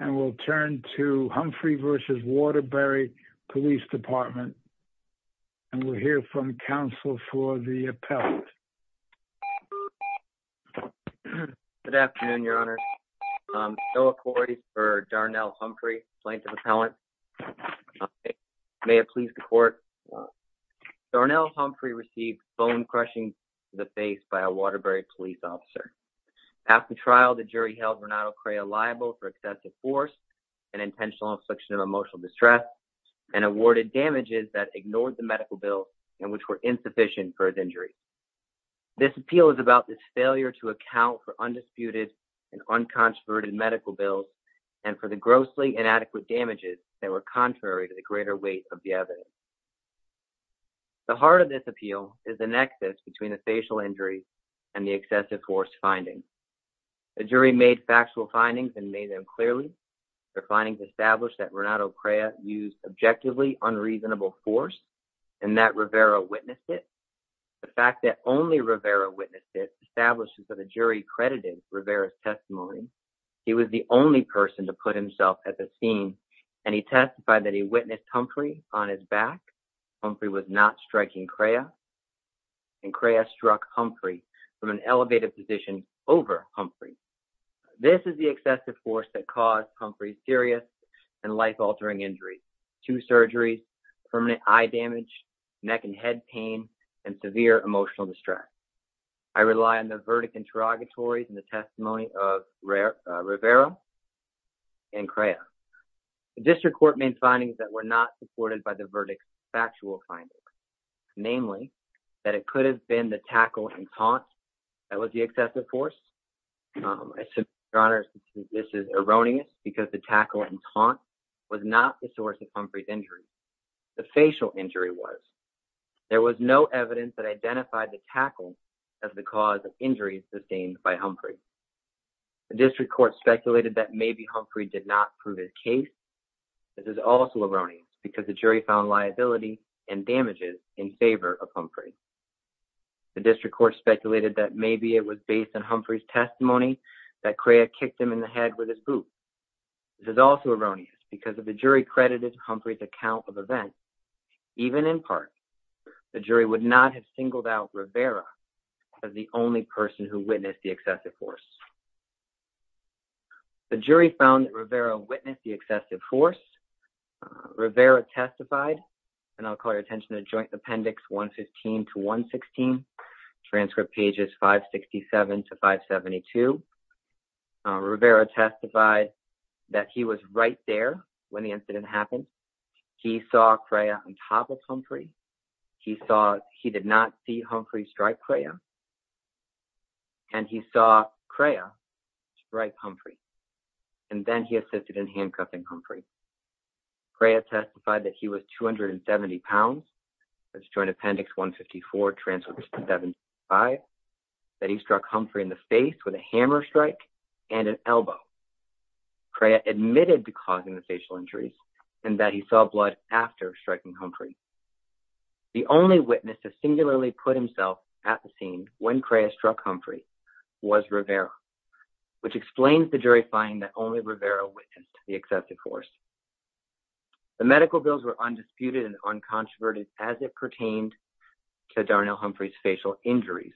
And we'll turn to Humphrey v. Waterbury Police Department. And we'll hear from counsel for the appellant. Good afternoon, your honor. Noah Corey for Darnell Humphrey, plaintiff appellant. May it please the court. Darnell Humphrey received phone crushing to the face by a force and intentional obstruction of emotional distress and awarded damages that ignored the medical bills and which were insufficient for his injury. This appeal is about this failure to account for undisputed and uncontroverted medical bills and for the grossly inadequate damages that were contrary to the greater weight of the evidence. The heart of this appeal is the nexus between the facial injuries and the excessive force findings. The jury made factual findings and made them clearly. The findings established that Renato Crea used objectively unreasonable force and that Rivera witnessed it. The fact that only Rivera witnessed it establishes that the jury credited Rivera's testimony. He was the only person to put himself at the scene and he testified that he witnessed Humphrey on his back. Humphrey was not striking Crea and Crea struck Humphrey from an elevated position over Humphrey. This is the excessive force that caused Humphrey serious and life-altering injuries, two surgeries, permanent eye damage, neck and head pain, and severe emotional distress. I rely on the verdict interrogatories and the testimony of Rivera and Crea. The district court made findings that were not supported by the that it could have been the tackle and taunt that was the excessive force. I submit, Your Honor, this is erroneous because the tackle and taunt was not the source of Humphrey's injury. The facial injury was. There was no evidence that identified the tackle as the cause of injuries sustained by Humphrey. The district court speculated that maybe Humphrey did not prove his case. This is also erroneous because the jury found liability and damages in favor of Humphrey. The district court speculated that maybe it was based on Humphrey's testimony that Crea kicked him in the head with his boot. This is also erroneous because if the jury credited Humphrey's account of events, even in part, the jury would not have singled out Rivera as the only person who witnessed the excessive force. The jury found that Rivera witnessed the excessive force. Rivera testified, and I'll call your attention to joint appendix 115 to 116, transcript pages 567 to 572. Rivera testified that he was right there when the incident happened. He saw Crea on top of Humphrey. He saw he did not see Humphrey strike Crea. And he saw Crea strike Humphrey. And then he assisted in handcuffing Humphrey. Crea testified that he was 270 pounds. That's joint appendix 154 transcript to 75. That he struck Humphrey in the face with a hammer strike and an elbow. Crea admitted to causing the facial injuries and that he saw blood after striking Humphrey. The only witness to singularly put himself at the scene when Crea struck Humphrey was Rivera, which explains the jury finding that only Rivera witnessed the excessive force. The medical bills were undisputed and uncontroverted as it pertained to Darnell Humphrey's facial injuries.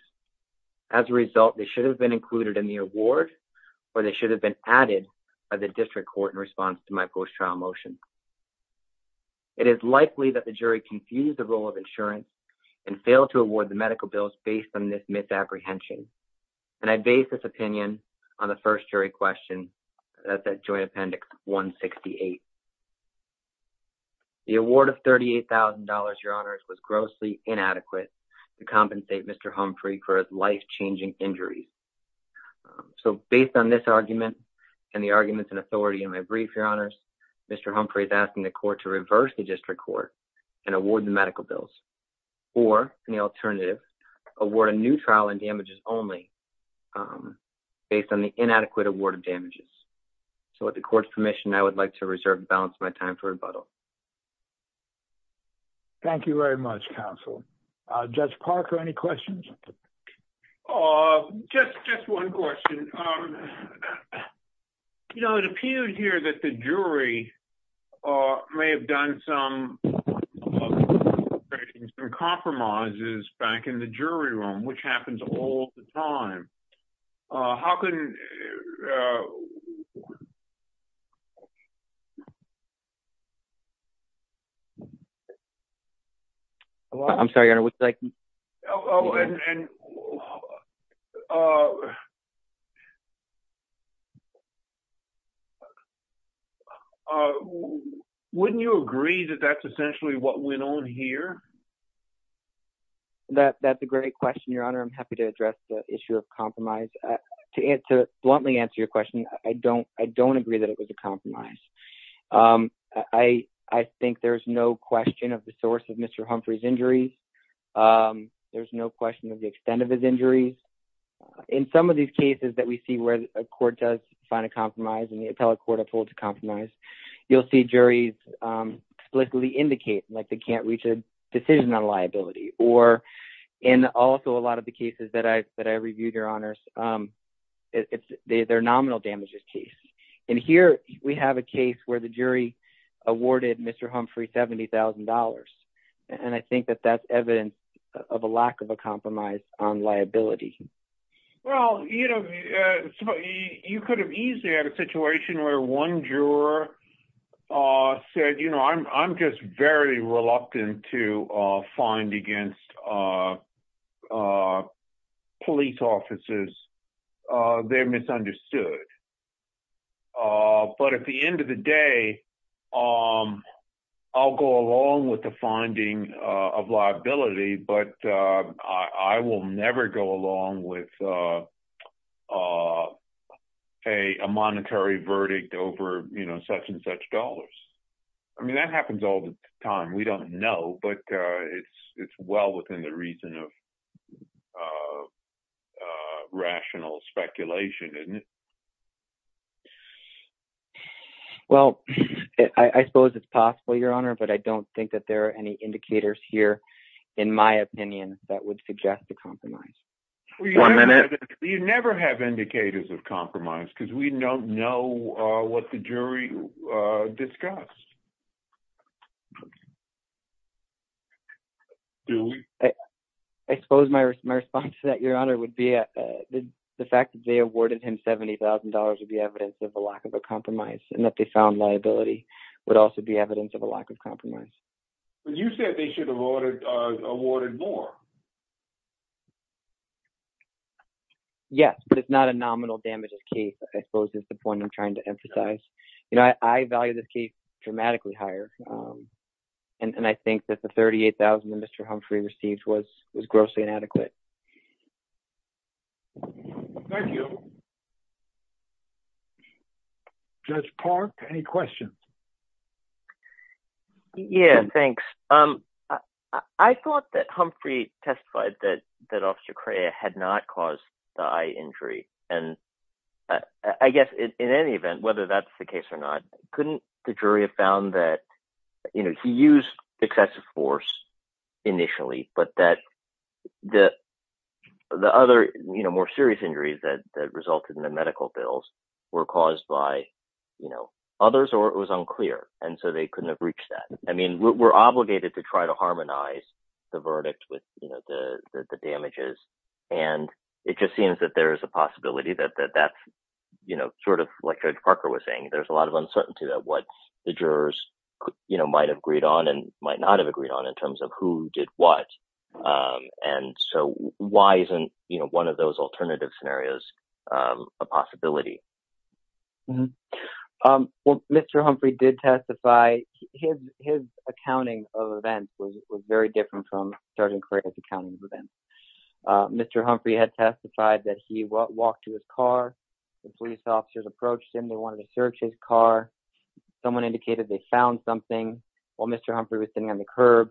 As a result, they should have been included in the award or they should have been added by the district court in response to my post-trial motion. It is likely that the jury confused the role of insurance and failed to award the medical bills based on this misapprehension. And I base this opinion on the first jury question, that's that joint appendix 168. The award of $38,000, your honors, was grossly inadequate to compensate Mr. Humphrey for his life-changing injury. So based on this argument and the arguments and authority in my brief, your honors, Mr. Humphrey is asking the court to reverse the district court and award the medical bills. Or in the alternative, award a new trial and so with the court's permission, I would like to reserve and balance my time for rebuttal. Thank you very much, counsel. Judge Parker, any questions? Just one question. It appears here that the jury may have done some compromises back in the jury room, which happens all the time. I'm sorry, your honor. Wouldn't you agree that that's essentially what went on here? That's a great question, your honor. I'm happy to address the issue of compromise. To bluntly answer your question, I don't agree that it was a compromise. I think there's no question of the source of Mr. Humphrey's injuries. There's no question of the extent of his injuries. In some of these cases that we see where a court does find a compromise and the appellate court upholds a compromise, you'll see juries explicitly indicate like they can't reach a decision on liability. Or in also a lot of the cases that I reviewed, your honors, they're nominal damages case. And here we have a case where the jury awarded Mr. Humphrey $70,000. And I think that that's evidence of a lack of a compromise on liability. Well, you could have easily had a situation where one juror said, I'm just very pleased officers. They're misunderstood. But at the end of the day, I'll go along with the finding of liability, but I will never go along with a monetary verdict over such and such dollars. I mean, that happens all the time. We don't know, but it's well within the reason of rational speculation, isn't it? Well, I suppose it's possible, your honor, but I don't think that there are any indicators here, in my opinion, that would suggest a compromise. One minute. You never have indicators of compromise because we don't know what the jury discussed. Do we? I suppose my response to that, your honor, would be the fact that they awarded him $70,000 would be evidence of a lack of a compromise, and that they found liability would also be evidence of a lack of compromise. But you said they should have awarded more. Yes, but it's not a nominal damages case, I suppose, is the point I'm trying to emphasize. I value this case dramatically higher, and I think that the $38,000 that Mr. Humphrey received was grossly inadequate. Thank you. Judge Park, any questions? Yeah, thanks. I thought that Humphrey testified that Officer Cray had not caused the eye injury, and I guess in any event, whether that's the case or not, couldn't the jury have found that he used excessive force initially, but that the other more serious injuries that resulted in the medical bills were caused by others, or it was unclear, and so they couldn't have reached that. I mean, we're obligated to try to harmonize the verdict with the damages, and it just seems that there is a possibility that that's sort of, like Judge Parker was saying, there's a lot of uncertainty about what the jurors might have agreed on and might not have agreed on in terms of who did what, and so why isn't one of those alternative scenarios a possibility? Well, Mr. Humphrey did testify. His accounting of events was very different from Sergeant Cray's accounting of events. Mr. Humphrey had testified that he walked to his car. The police officers approached him. They wanted to search his car. Someone indicated they found something. While Mr. Humphrey was sitting on the curb,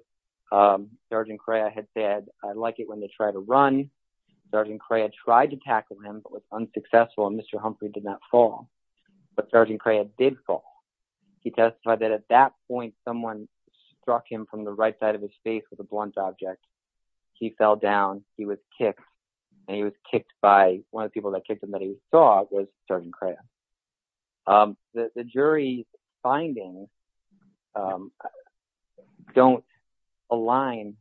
Sergeant Cray had said, I like it when they try to run. Sergeant Cray had tried to tackle him, but was unsuccessful, and Mr. Humphrey did not fall, but Sergeant Cray did fall. He testified that at that point, someone struck him from the right of his face with a blunt object. He fell down. He was kicked, and he was kicked by, one of the people that kicked him that he saw was Sergeant Cray. The jury's findings don't align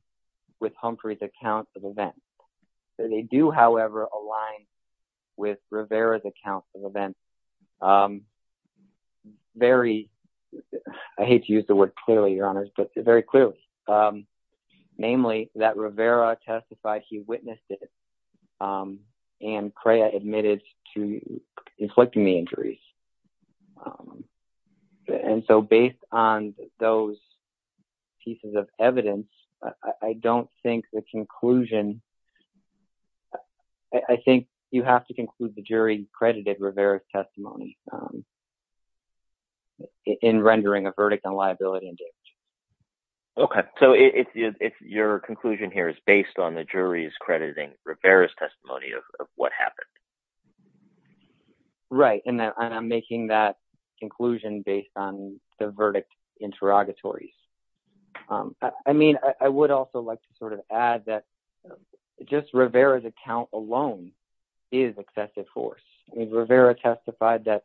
with Humphrey's accounts of events. They do, however, align with Rivera's accounts of events. I hate to use the word clearly, Your Honors, but very clearly. Namely, that Rivera testified he witnessed it, and Cray admitted to inflicting the injuries. Based on those pieces of evidence, I don't think the conclusion, and I think you have to conclude the jury credited Rivera's testimony in rendering a verdict on liability and damage. Okay, so your conclusion here is based on the jury's crediting Rivera's testimony of what happened. Right, and I'm making that conclusion based on the verdict interrogatories. I would also like to sort of add that just Rivera's account alone is excessive force. I mean, Rivera testified that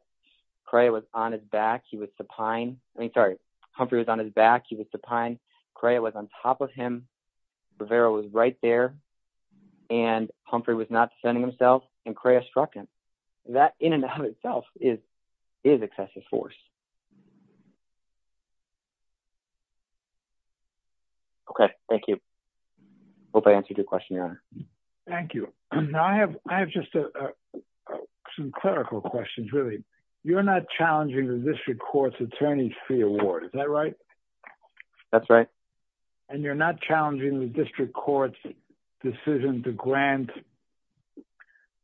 Cray was on his back. He was supine. I mean, sorry, Humphrey was on his back. He was supine. Cray was on top of him. Rivera was right there, and Humphrey was not defending himself, and Cray struck him. That in and of itself is excessive force. Okay, thank you. I hope I answered your question, Your Honor. Thank you. Now, I have just some clerical questions, really. You're not challenging the district court's attorney's fee award. Is that right? That's right. And you're not challenging the district court's decision to grant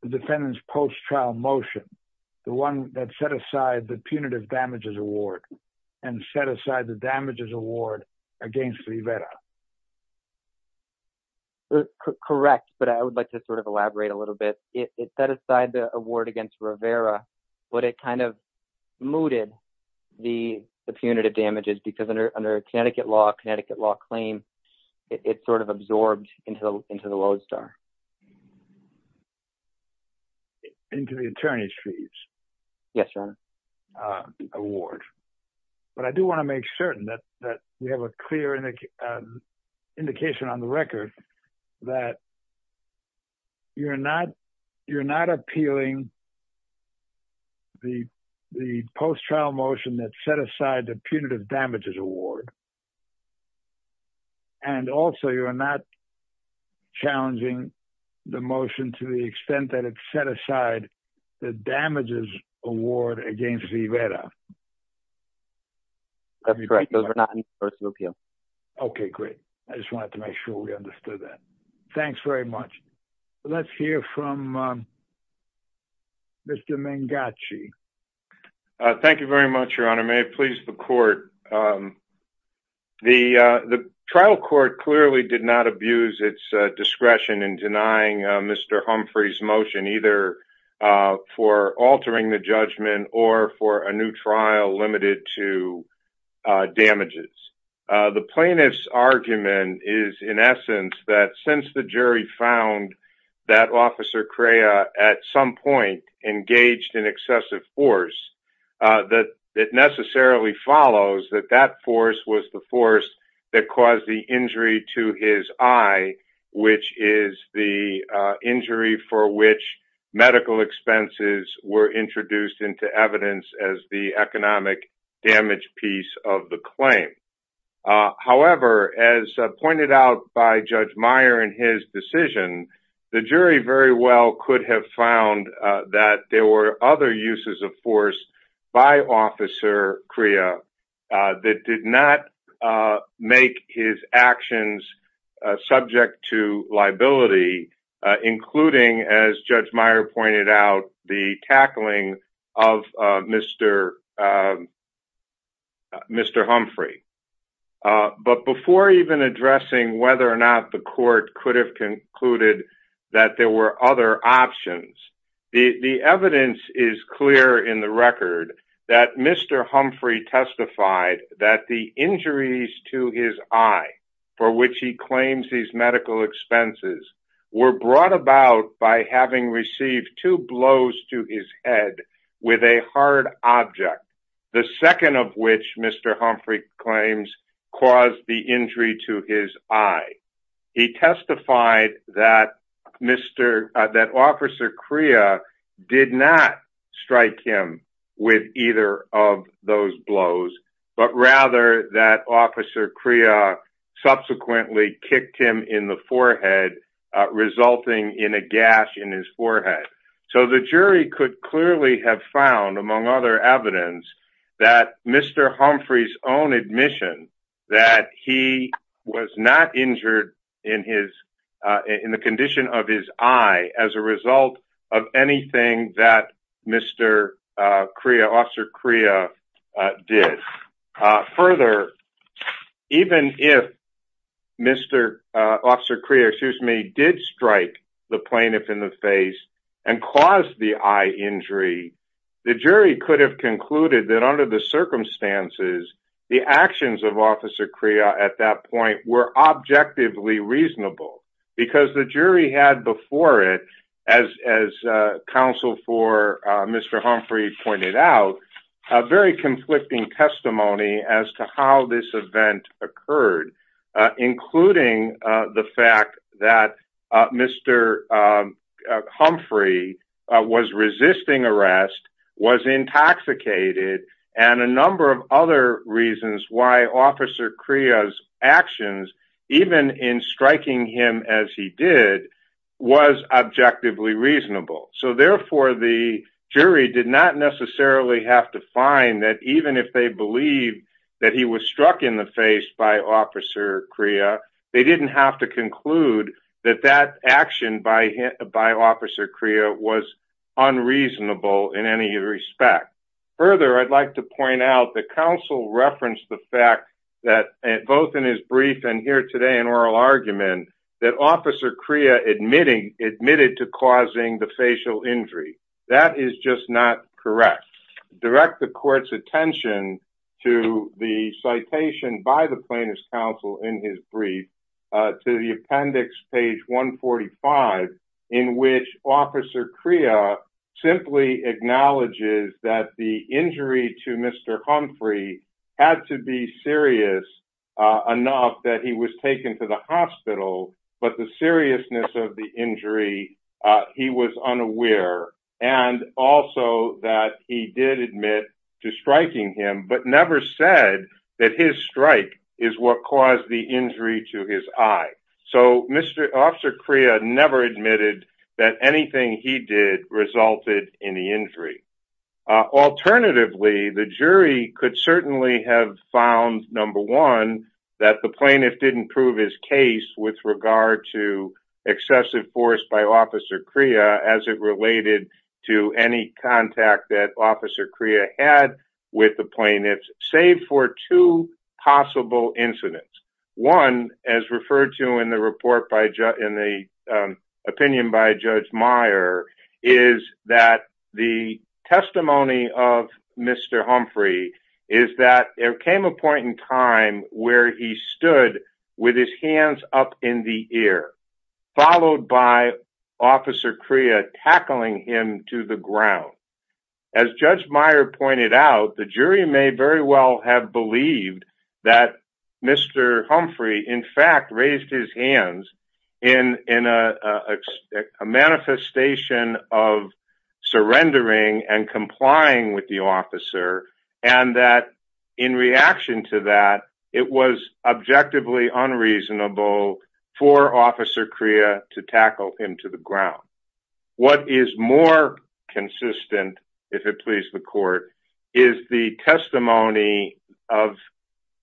the defendant's post-trial motion, the one that set aside the punitive damage to the defendant, and you're not challenging the district court's decision to grant the defendant the damages award and set aside the damages award against Rivera. Correct, but I would like to sort of elaborate a little bit. It set aside the award against Rivera, but it kind of mooted the punitive damages because under Connecticut law, Connecticut law claim, it sort of absorbed into the Lodestar. But I do want to make certain that we have a clear indication on the record that you're not appealing the post-trial motion that set aside the punitive damages award, and also you're not challenging the motion to the extent that it set aside the damages award against Rivera. That's correct. Those are not in the first appeal. Okay, great. I just wanted to make sure we understood that. Thanks very much. Let's hear from Mr. Mangachi. Thank you very much, Your Honor. May it please the court. The trial court clearly did not abuse its discretion in denying Mr. Humphrey's motion, either for altering the judgment or for a new trial limited to damages. The plaintiff's argument is, in essence, that since the jury found that Officer Crea at some point engaged in excessive force, that it necessarily follows that that force was the force that caused the injury to his eye, which is the injury for which medical expenses were introduced into evidence as the economic damage piece of the claim. However, as pointed out by Judge Meyer in his decision, the jury very well could have found that there were other uses of force by Officer Crea that did not make his actions subject to liability, including, as Judge Meyer pointed out, the tackling of Mr. Humphrey. But before even addressing whether or not the court could have concluded that there were other options, the evidence is clear in the record that Mr. Humphrey testified that the injuries to his eye for which he claims these medical expenses were brought about by having received two blows to his head with a hard object, the second of which Mr. Humphrey claims caused the injury to his eye. He testified that Officer Crea did not strike him with either of those blows, but rather that Officer Crea subsequently kicked him in the forehead, resulting in a gash in his forehead. So the jury could clearly have found, among other evidence, that Mr. Humphrey's own admission that he was not injured in the condition of his eye as a result of anything that Officer Crea did. Further, even if Officer Crea did strike the plaintiff in the face and cause the eye injury, the jury could have concluded that under the circumstances, the actions of Officer Crea at that point were objectively reasonable, because the jury had before it, as counsel for Mr. Humphrey pointed out, a very conflicting testimony as to how this event occurred, including the fact that Mr. Humphrey was resisting arrest, was intoxicated, and a number of other reasons why Officer Crea's actions, even in striking him as he did, was objectively reasonable. So therefore, the jury did not necessarily have to find that even if they believed that he was by Officer Crea was unreasonable in any respect. Further, I'd like to point out that counsel referenced the fact that, both in his brief and here today in oral argument, that Officer Crea admitted to causing the facial injury. That is just not correct. Direct the court's attention to the citation by the plaintiff's counsel in his brief to the appendix, page 145, in which Officer Crea simply acknowledges that the injury to Mr. Humphrey had to be serious enough that he was taken to the hospital, but the seriousness of the injury, he was unaware. And also that he did admit to striking him, but never said that his strike is what caused the injury to his eye. So Officer Crea never admitted that anything he did resulted in the injury. Alternatively, the jury could certainly have found, number one, that the plaintiff didn't prove his case with regard to excessive force by Officer Crea as it related to any contact that Officer Crea had with the plaintiffs, save for two possible incidents. One, as referred to in the opinion by Judge Meyer, is that the testimony of Mr. Humphrey is that there came a point in time where he stood with his hands up in the air, followed by Officer Crea tackling him to the ground. As Judge Meyer pointed out, the jury may very well have believed that Mr. Humphrey, in fact, raised his hands in a manifestation of surrendering and complying with the officer, and that in reaction to that, it was objectively unreasonable for Officer Crea to tackle him to the ground. What is more consistent, if it please the court, is the testimony of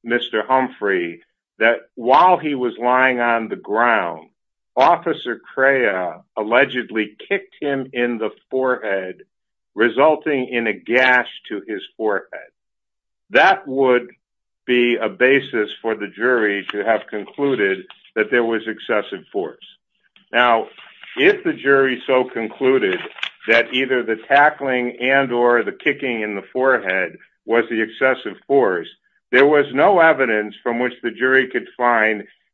Mr. Humphrey that while he was lying on the ground, Officer Crea allegedly kicked him in the forehead, resulting in a gash to his forehead. That would be a basis for the jury to have concluded that there was excessive force. Now, if the jury so concluded that either the tackling and or the kicking in the forehead was the excessive force, there was no evidence from which the jury could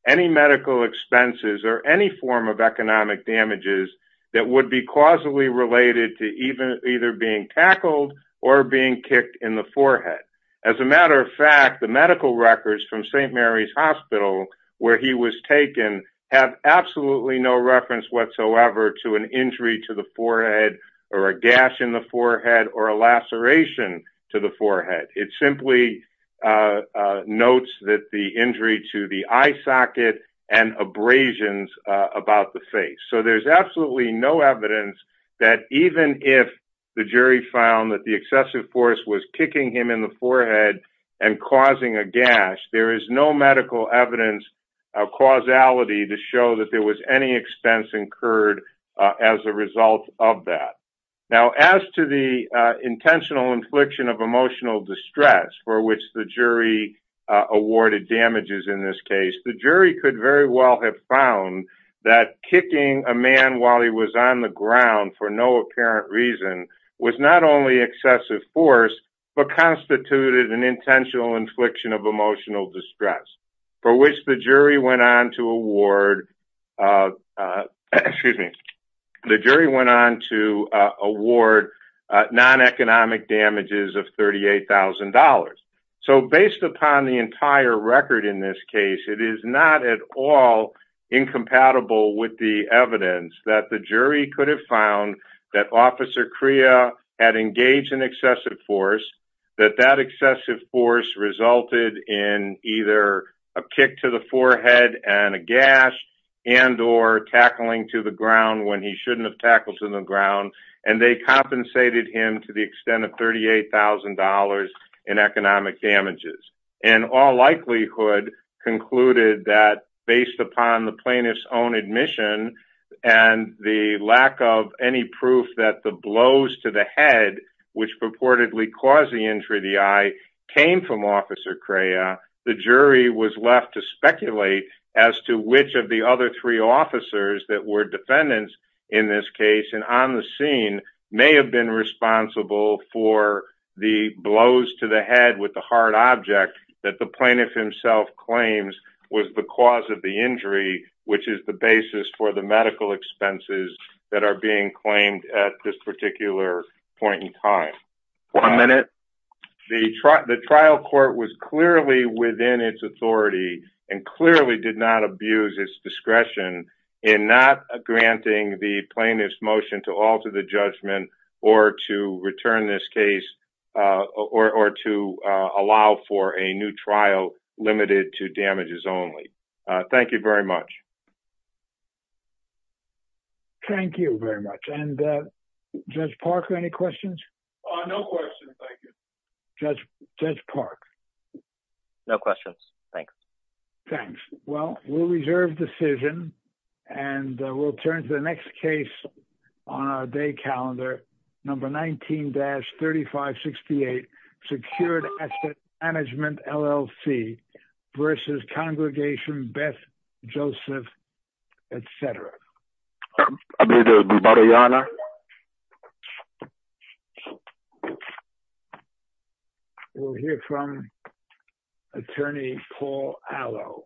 any medical expenses or any form of economic damages that would be causally related to either being tackled or being kicked in the forehead. As a matter of fact, the medical records from St. Mary's Hospital, where he was taken, have absolutely no reference whatsoever to an injury to the forehead or a gash in the forehead or a laceration to the forehead. It simply notes that the injury to the eye socket and abrasions about the face. So there's absolutely no evidence that even if the jury found that the excessive force was kicking him in the forehead and causing a gash, there is no medical evidence of causality to show that there was any expense incurred as a result of that. Now, as to the intentional infliction of emotional distress, for which the jury awarded damages in this case, the jury could very well have found that kicking a man while he was on the ground for no apparent reason was not only excessive force, but constituted an intentional infliction of emotional distress, for which the jury went on to award non-economic damages of $38,000. So based upon the entire record in this case, it is not at all incompatible with the evidence that the jury could have found that Officer Crea had engaged in excessive force, that that excessive force resulted in either a gash and or tackling to the ground when he shouldn't have tackled to the ground, and they compensated him to the extent of $38,000 in economic damages. In all likelihood, concluded that based upon the plaintiff's own admission and the lack of any proof that the blows to the head, which purportedly caused the injury to the eye, came from Officer Crea, the jury was left to speculate as to which of the other three officers that were defendants in this case and on the scene may have been responsible for the blows to the head with the hard object that the plaintiff himself claims was the cause of the injury, which is the basis for the medical expenses that are being claimed at this particular point in time. One minute. The trial court was clearly within its authority and clearly did not abuse its discretion in not granting the plaintiff's motion to alter the judgment or to return this case or to allow for a new trial limited to damages only. Thank you very much. Thank you very much. And Judge Parker, any questions? No questions. Thank you, Judge Park. No questions. Thanks. Thanks. Well, we'll reserve decision and we'll turn to the next case on our day calendar. Number 19-3568, Secured Asset Management LLC versus Congregation Beth Joseph, etc. We'll hear from Attorney Paul Allo.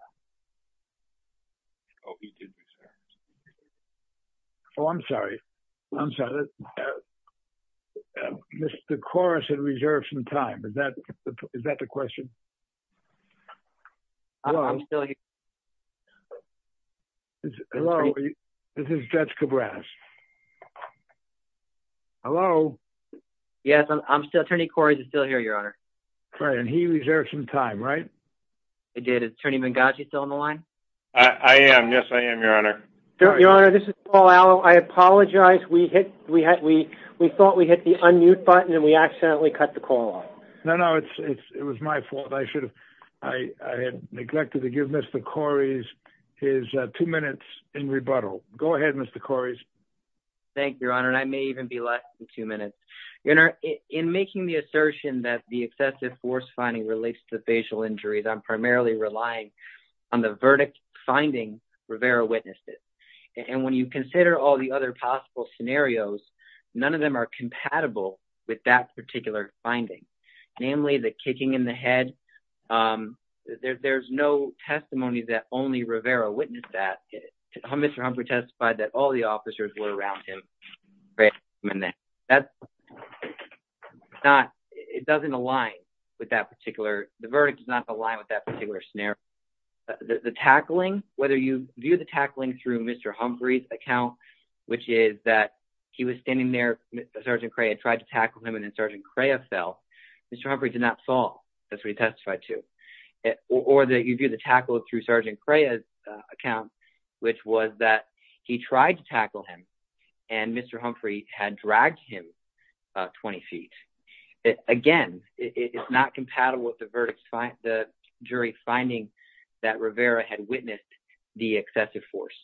Oh, I'm sorry. I'm sorry. The chorus had reserved some time. Is that the question? It's low. This is Judge Cabrera's. Hello? Yes, I'm still turning Corey's still here, Your Honor. Right. And he reserved some time, right? I did. It's turning Benghazi still on the line. I am. Yes, I am, Your Honor. Your Honor, this is Paul. I apologize. We hit we had we we thought we hit the unmute button and we accidentally cut the call. No, no, it's it was my fault. I should I had neglected to give Mr. Corey's his two minutes in rebuttal. Go ahead, Mr. Corey's. Thank you, Your Honor. And I may even be less than two minutes in making the assertion that the excessive force finding relates to facial injuries. I'm primarily relying on the verdict finding Rivera witnesses. And when you consider all the other possible scenarios, none of them are compatible with that particular finding, namely the kicking in the head, there's no testimony that only Rivera witnessed that. Mr. Humphrey testified that all the officers were around him. That's not it doesn't align with that particular. The verdict does not align with that particular scenario. The tackling, whether you view the tackling through Mr. Humphrey's account, which is that he was standing there, Sergeant Cray had tried to tackle him and then Cray fell. Mr. Humphrey did not fall. That's what he testified to. Or that you do the tackle through Sergeant Cray's account, which was that he tried to tackle him and Mr. Humphrey had dragged him 20 feet. Again, it's not compatible with the verdict. The jury finding that Rivera had witnessed the excessive force.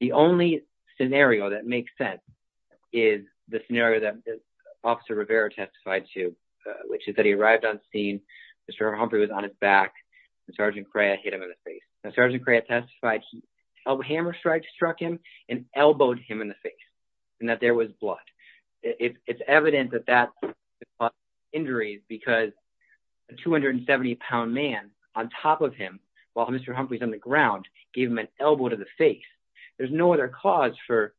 The only scenario that makes sense is the scenario that Officer Rivera testified to, which is that he arrived on scene, Mr. Humphrey was on his back, and Sergeant Cray hit him in the face. Now Sergeant Cray testified a hammer strike struck him and elbowed him in the face and that there was blood. It's evident that that caused injuries because a 270 pound man on top of him while Mr. Humphrey's on the ground gave him an elbow to the face. There's no other cause for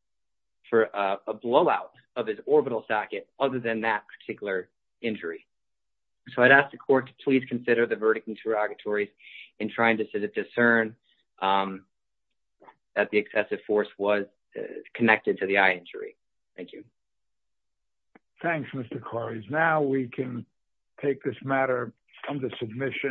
a blowout of his orbital socket other than that particular injury. So I'd ask the court to please consider the verdict interrogatory in trying to discern that the excessive force was connected to the eye injury. Thank you. Thanks, Mr. Corries. Now we can take this matter from the submission.